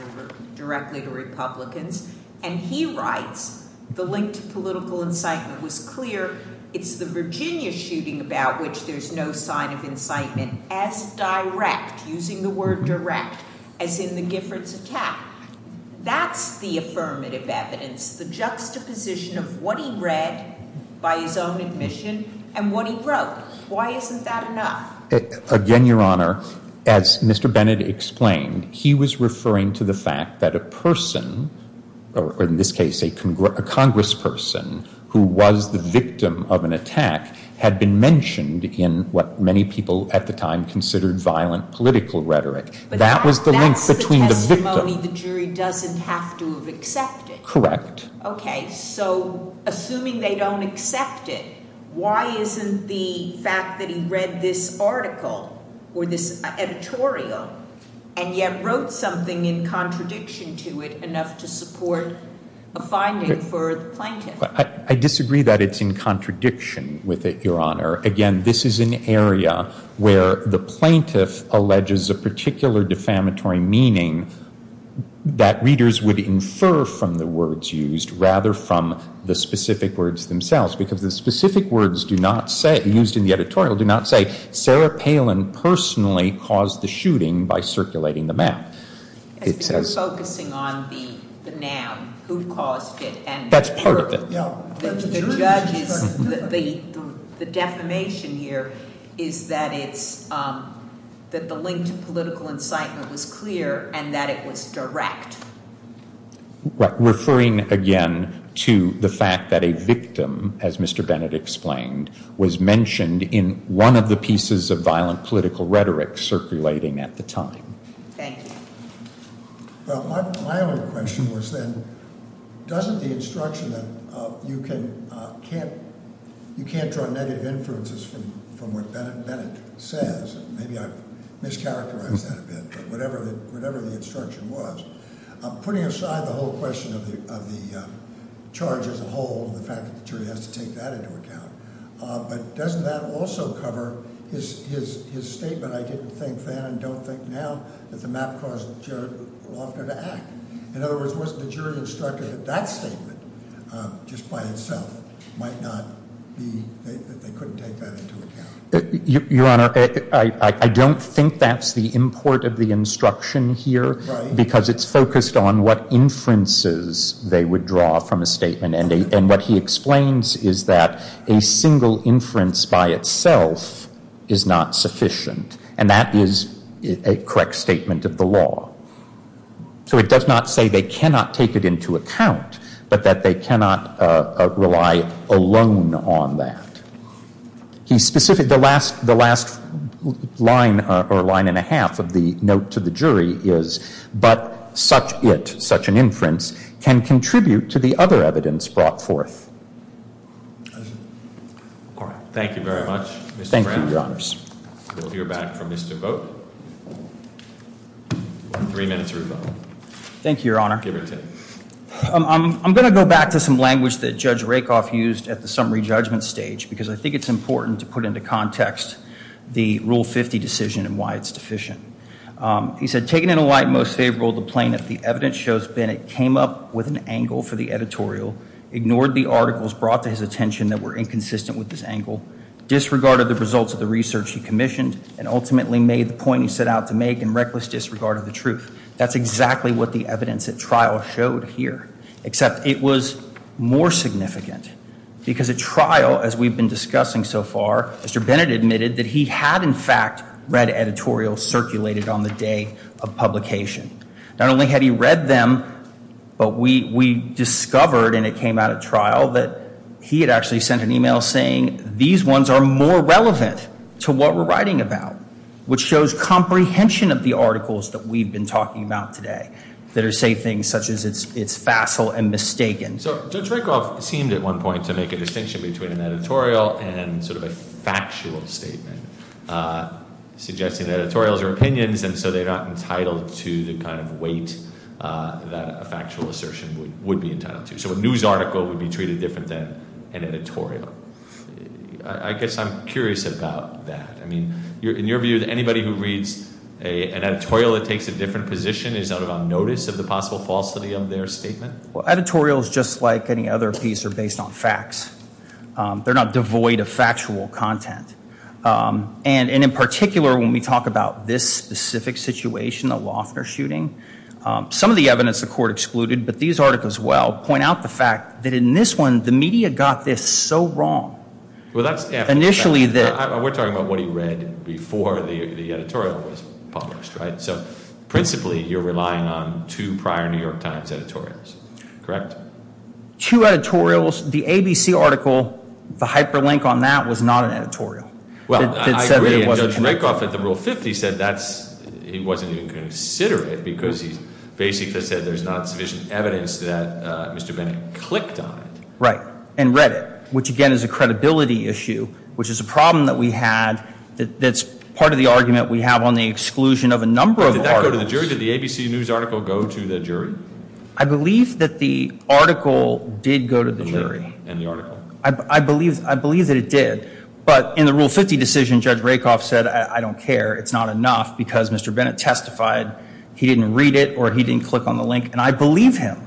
directly to Republicans. And he writes, the link to political incitement was clear. It's the Virginia shooting about which there's no sign of incitement as direct, using the word direct, as in the Giffords attack. That's the affirmative evidence, the juxtaposition of what he read by his own admission and what he wrote. Why isn't that enough? Again, Your Honor, as Mr. Bennett explained, he was referring to the fact that a person, or in this case, a congressperson, who was the victim of an attack had been mentioned in what many people at the time considered violent political rhetoric. That was the link between the victim. But that's the testimony the jury doesn't have to have accepted. Correct. OK. So assuming they don't accept it, why isn't the fact that he read this article or this editorial and yet wrote something in contradiction to it enough to support a finding for the plaintiff? I disagree that it's in contradiction with it, Your Honor. Again, this is an area where the plaintiff alleges a particular defamatory meaning that readers would infer from the words used rather from the specific words themselves. Because the specific words used in the editorial do not say, Sarah Palin personally caused the shooting by circulating the map. You're focusing on the noun, who caused it. That's part of it. The defamation here is that the link to political incitement was clear and that it was direct. Referring again to the fact that a victim, as Mr. Bennett explained, was mentioned in one of the pieces of violent political rhetoric circulating at the time. Thank you. My only question was then, doesn't the instruction that you can't draw negative influences from what Bennett says, maybe I've mischaracterized that a bit, but whatever the instruction was, putting aside the whole question of the charge as a whole and the fact that the jury has to take that into account, but doesn't that also cover his statement, I didn't think then and don't think now, that the map caused Jared Loftner to act. In other words, wasn't the jury instructed that that statement just by itself might not be, that they couldn't take that into account? Your Honor, I don't think that's the import of the instruction here, because it's focused on what inferences they would draw from a statement. And what he explains is that a single inference by itself is not sufficient. And that is a correct statement of the law. So it does not say they cannot take it into account, but that they cannot rely alone on that. The last line or line and a half of the note to the jury is, but such it, such an inference, can contribute to the other evidence brought forth. Thank you, Your Honors. We'll hear back from Mr. Vogt. Three minutes or so. Thank you, Your Honor. Give or take. I'm going to go back to some language that Judge Rakoff used at the summary judgment stage, because I think it's important to put into context the Rule 50 decision and why it's deficient. He said, taken in a light most favorable to plaintiff, the evidence shows Bennett came up with an angle for the editorial, ignored the articles brought to his attention that were inconsistent with this angle, disregarded the results of the research he commissioned, and ultimately made the point he set out to make in reckless disregard of the truth. That's exactly what the evidence at trial showed here. Except it was more significant, because at trial, as we've been discussing so far, Mr. Bennett admitted that he had, in fact, read editorials circulated on the day of publication. Not only had he read them, but we discovered, and it came out at trial, that he had actually sent an email saying these ones are more relevant to what we're writing about, which shows comprehension of the articles that we've been talking about today, that say things such as it's facile and mistaken. So Judge Rakoff seemed at one point to make a distinction between an editorial and sort of a factual statement, suggesting that editorials are opinions, and so they're not entitled to the kind of weight that a factual assertion would be entitled to. So a news article would be treated different than an editorial. I guess I'm curious about that. I mean, in your view, anybody who reads an editorial that takes a different position, is that on notice of the possible falsity of their statement? Well, editorials, just like any other piece, are based on facts. They're not devoid of factual content. And in particular, when we talk about this specific situation, the Loeffner shooting, some of the evidence the court excluded, but these articles as well, point out the fact that in this one, the media got this so wrong. We're talking about what he read before the editorial was published, right? So principally, you're relying on two prior New York Times editorials, correct? Two editorials. The ABC article, the hyperlink on that was not an editorial. Well, I agree, and Judge Rakoff at the Rule 50 said that he wasn't even going to consider it because he basically said there's not sufficient evidence that Mr. Bennett clicked on it. Right, and read it, which, again, is a credibility issue, which is a problem that we had that's part of the argument we have on the exclusion of a number of articles. Did that go to the jury? Did the ABC news article go to the jury? I believe that the article did go to the jury. And the article. I believe that it did. But in the Rule 50 decision, Judge Rakoff said, I don't care, it's not enough, because Mr. Bennett testified he didn't read it or he didn't click on the link, and I believe him,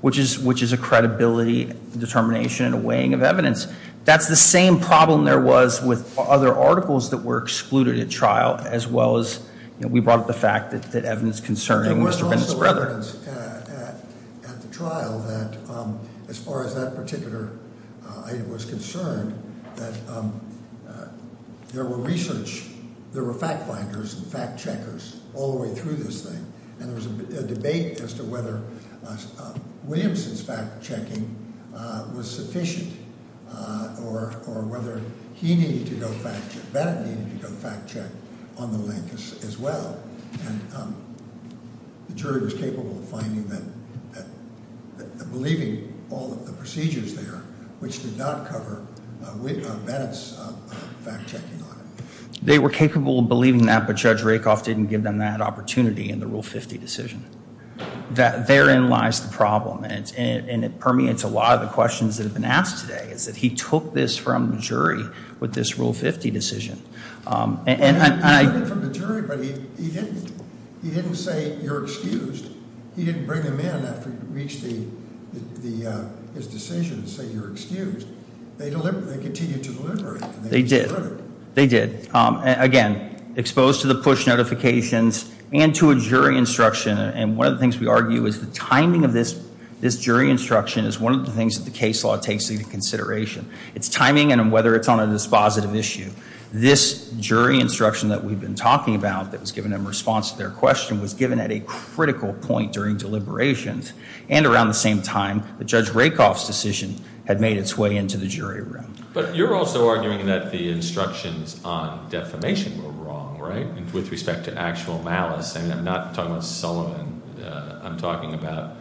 which is a credibility determination and a weighing of evidence. That's the same problem there was with other articles that were excluded at trial, as well as we brought up the fact that evidence concerning Mr. Bennett's brother. There was evidence at the trial that as far as that particular item was concerned, that there were research, there were fact-finders and fact-checkers all the way through this thing, and there was a debate as to whether Williamson's fact-checking was sufficient or whether he needed to go fact-check, Bennett needed to go fact-check on the link as well. And the jury was capable of finding that, believing all of the procedures there, which did not cover Bennett's fact-checking on it. They were capable of believing that, but Judge Rakoff didn't give them that opportunity in the Rule 50 decision. Therein lies the problem, and it permeates a lot of the questions that have been asked today, is that he took this from the jury with this Rule 50 decision. And I- He took it from the jury, but he didn't say, you're excused. He didn't bring them in after he reached his decision and say, you're excused. They continued to deliberate. They did. They did. Again, exposed to the push notifications and to a jury instruction, and one of the things we argue is the timing of this jury instruction is one of the things that the case law takes into consideration. It's timing and whether it's on a dispositive issue. This jury instruction that we've been talking about that was given in response to their question was given at a critical point during deliberations, and around the same time that Judge Rakoff's decision had made its way into the jury room. But you're also arguing that the instructions on defamation were wrong, right, with respect to actual malice. I'm not talking about Sullivan. I'm talking about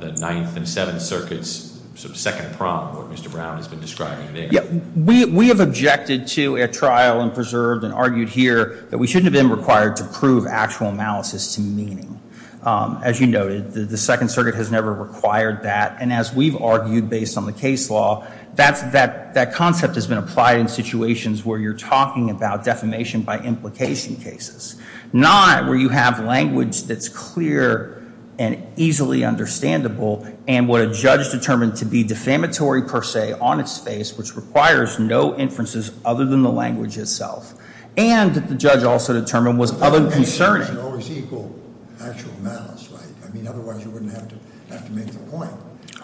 the Ninth and Seventh Circuits, sort of second prom, what Mr. Brown has been describing today. We have objected to a trial and preserved and argued here that we shouldn't have been required to prove actual analysis to meaning. As you noted, the Second Circuit has never required that. And as we've argued based on the case law, that concept has been applied in situations where you're talking about defamation by implication cases. Not where you have language that's clear and easily understandable and what a judge determined to be defamatory per se on its face, which requires no inferences other than the language itself. And that the judge also determined was other than concerning. It should always equal actual malice, right? I mean, otherwise you wouldn't have to make the point.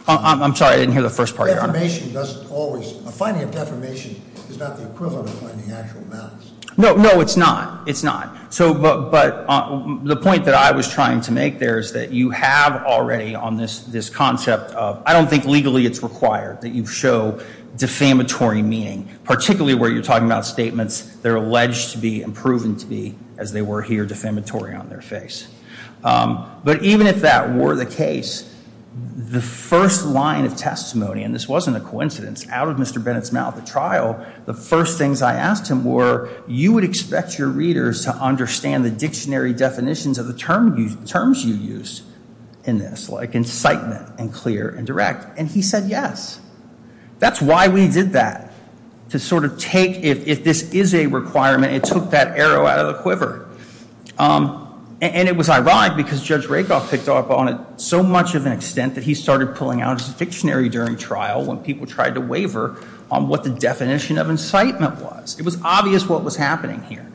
I'm sorry, I didn't hear the first part, Your Honor. A finding of defamation is not the equivalent of finding actual malice. No, it's not. It's not. But the point that I was trying to make there is that you have already on this concept of, I don't think legally it's required that you show defamatory meaning, particularly where you're talking about statements that are alleged to be and proven to be, as they were here, defamatory on their face. But even if that were the case, the first line of testimony, and this wasn't a coincidence, out of Mr. Bennett's mouth at trial, the first things I asked him were, you would expect your readers to understand the dictionary definitions of the terms you used in this, like incitement and clear and direct. And he said yes. That's why we did that, to sort of take, if this is a requirement, it took that arrow out of the quiver. And it was ironic because Judge Rakoff picked up on it so much of an extent that he started pulling out his dictionary during trial when people tried to waver on what the definition of incitement was. It was obvious what was happening here.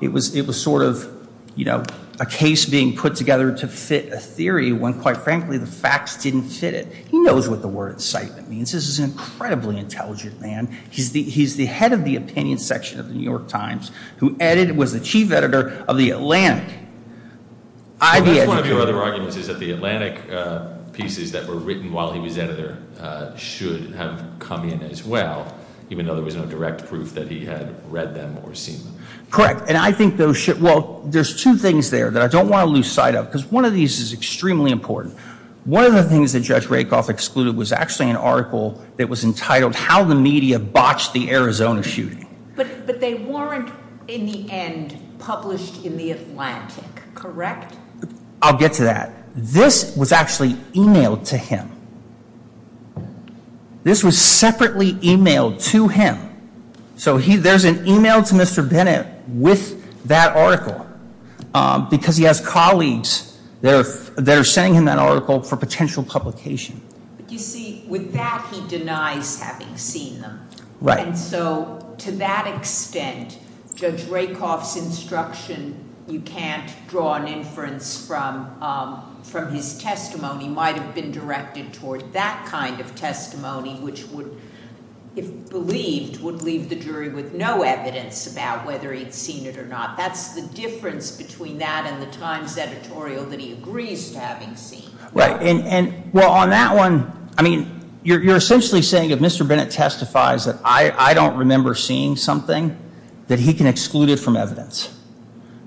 It was sort of a case being put together to fit a theory when, quite frankly, the facts didn't fit it. He knows what the word incitement means. This is an incredibly intelligent man. He's the head of the opinion section of the New York Times, who was the chief editor of the Atlantic. One of your other arguments is that the Atlantic pieces that were written while he was editor should have come in as well, even though there was no direct proof that he had read them or seen them. Correct. And I think those should – well, there's two things there that I don't want to lose sight of, because one of these is extremely important. One of the things that Judge Rakoff excluded was actually an article that was entitled How the Media Botched the Arizona Shooting. But they weren't, in the end, published in the Atlantic, correct? I'll get to that. This was actually emailed to him. This was separately emailed to him. So there's an email to Mr. Bennett with that article, because he has colleagues that are sending him that article for potential publication. But you see, with that, he denies having seen them. Right. And so to that extent, Judge Rakoff's instruction, you can't draw an inference from his testimony, might have been directed toward that kind of testimony, which would, if believed, would leave the jury with no evidence about whether he had seen it or not. That's the difference between that and the Times editorial that he agrees to having seen. Right. Well, on that one, I mean, you're essentially saying if Mr. Bennett testifies that I don't remember seeing something, that he can exclude it from evidence.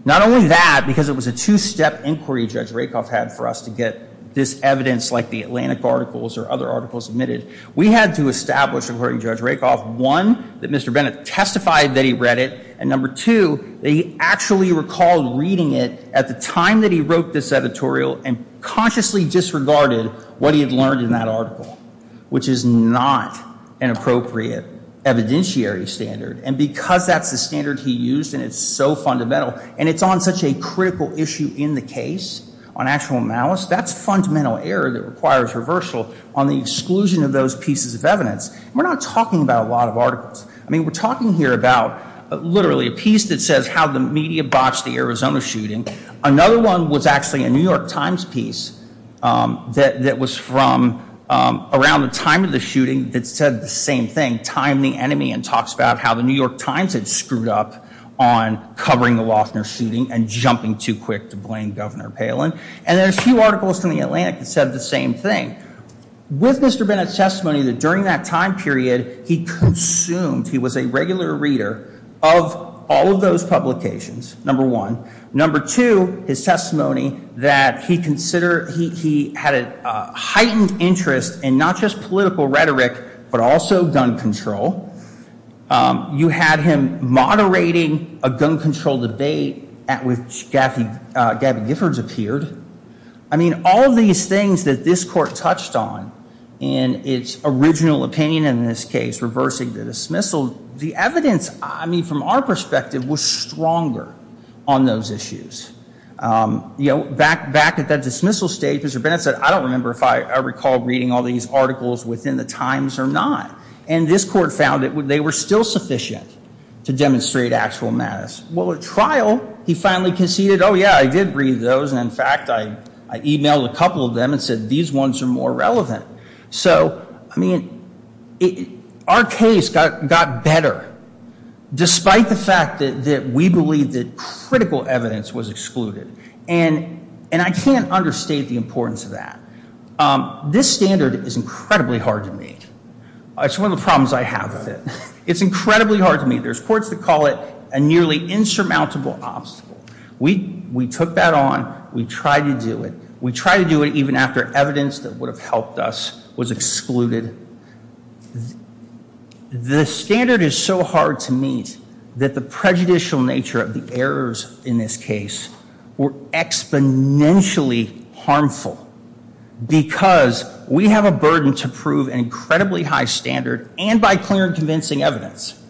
Not only that, because it was a two-step inquiry Judge Rakoff had for us to get this evidence, like the Atlantic articles or other articles omitted, we had to establish, according to Judge Rakoff, one, that Mr. Bennett testified that he read it, and number two, that he actually recalled reading it at the time that he wrote this editorial and consciously disregarded what he had learned in that article, which is not an appropriate evidentiary standard. And because that's the standard he used and it's so fundamental, and it's on such a critical issue in the case, on actual malice, that's fundamental error that requires reversal on the exclusion of those pieces of evidence. We're not talking about a lot of articles. I mean, we're talking here about literally a piece that says how the media botched the Arizona shooting. Another one was actually a New York Times piece that was from around the time of the shooting that said the same thing, Time the Enemy, and talks about how the New York Times had screwed up on covering the Loeffner shooting and jumping too quick to blame Governor Palin. And there are a few articles from the Atlantic that said the same thing. With Mr. Bennett's testimony that during that time period, he consumed, he was a regular reader of all of those publications, number one. Number two, his testimony that he had a heightened interest in not just political rhetoric, but also gun control. You had him moderating a gun control debate at which Gabby Giffords appeared. I mean, all of these things that this court touched on in its original opinion in this case, reversing the dismissal, the evidence, I mean, from our perspective, was stronger on those issues. You know, back at that dismissal stage, Mr. Bennett said, I don't remember if I recall reading all these articles within the Times or not. And this court found that they were still sufficient to demonstrate actual matters. Well, at trial, he finally conceded, oh, yeah, I did read those. And in fact, I emailed a couple of them and said, these ones are more relevant. So, I mean, our case got better despite the fact that we believe that critical evidence was excluded. And I can't understate the importance of that. This standard is incredibly hard to meet. It's one of the problems I have with it. It's incredibly hard to meet. There's courts that call it a nearly insurmountable obstacle. We took that on. We tried to do it. We tried to do it even after evidence that would have helped us was excluded. The standard is so hard to meet that the prejudicial nature of the errors in this case were exponentially harmful because we have a burden to prove an incredibly high standard and by clear and convincing evidence.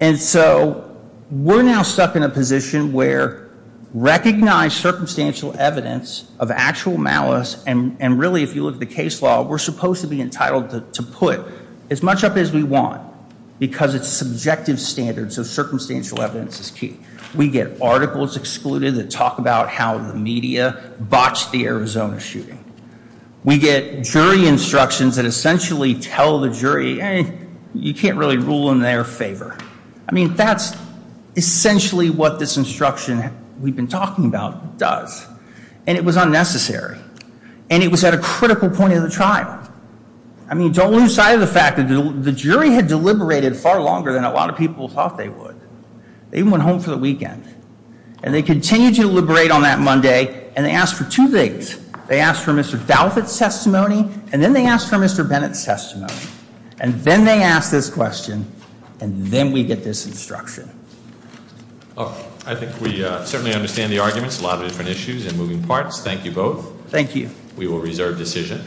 And so we're now stuck in a position where recognize circumstantial evidence of actual malice. And really, if you look at the case law, we're supposed to be entitled to put as much up as we want because it's subjective standards of circumstantial evidence is key. We get articles excluded that talk about how the media botched the Arizona shooting. We get jury instructions that essentially tell the jury you can't really rule in their favor. I mean, that's essentially what this instruction we've been talking about does. And it was unnecessary. And it was at a critical point in the trial. I mean, don't lose sight of the fact that the jury had deliberated far longer than a lot of people thought they would. They even went home for the weekend. And they continued to deliberate on that Monday, and they asked for two things. They asked for Mr. Dalvit's testimony, and then they asked for Mr. Bennett's testimony. And then they asked this question, and then we get this instruction. I think we certainly understand the arguments, a lot of different issues and moving parts. Thank you both. Thank you. We will reserve decision.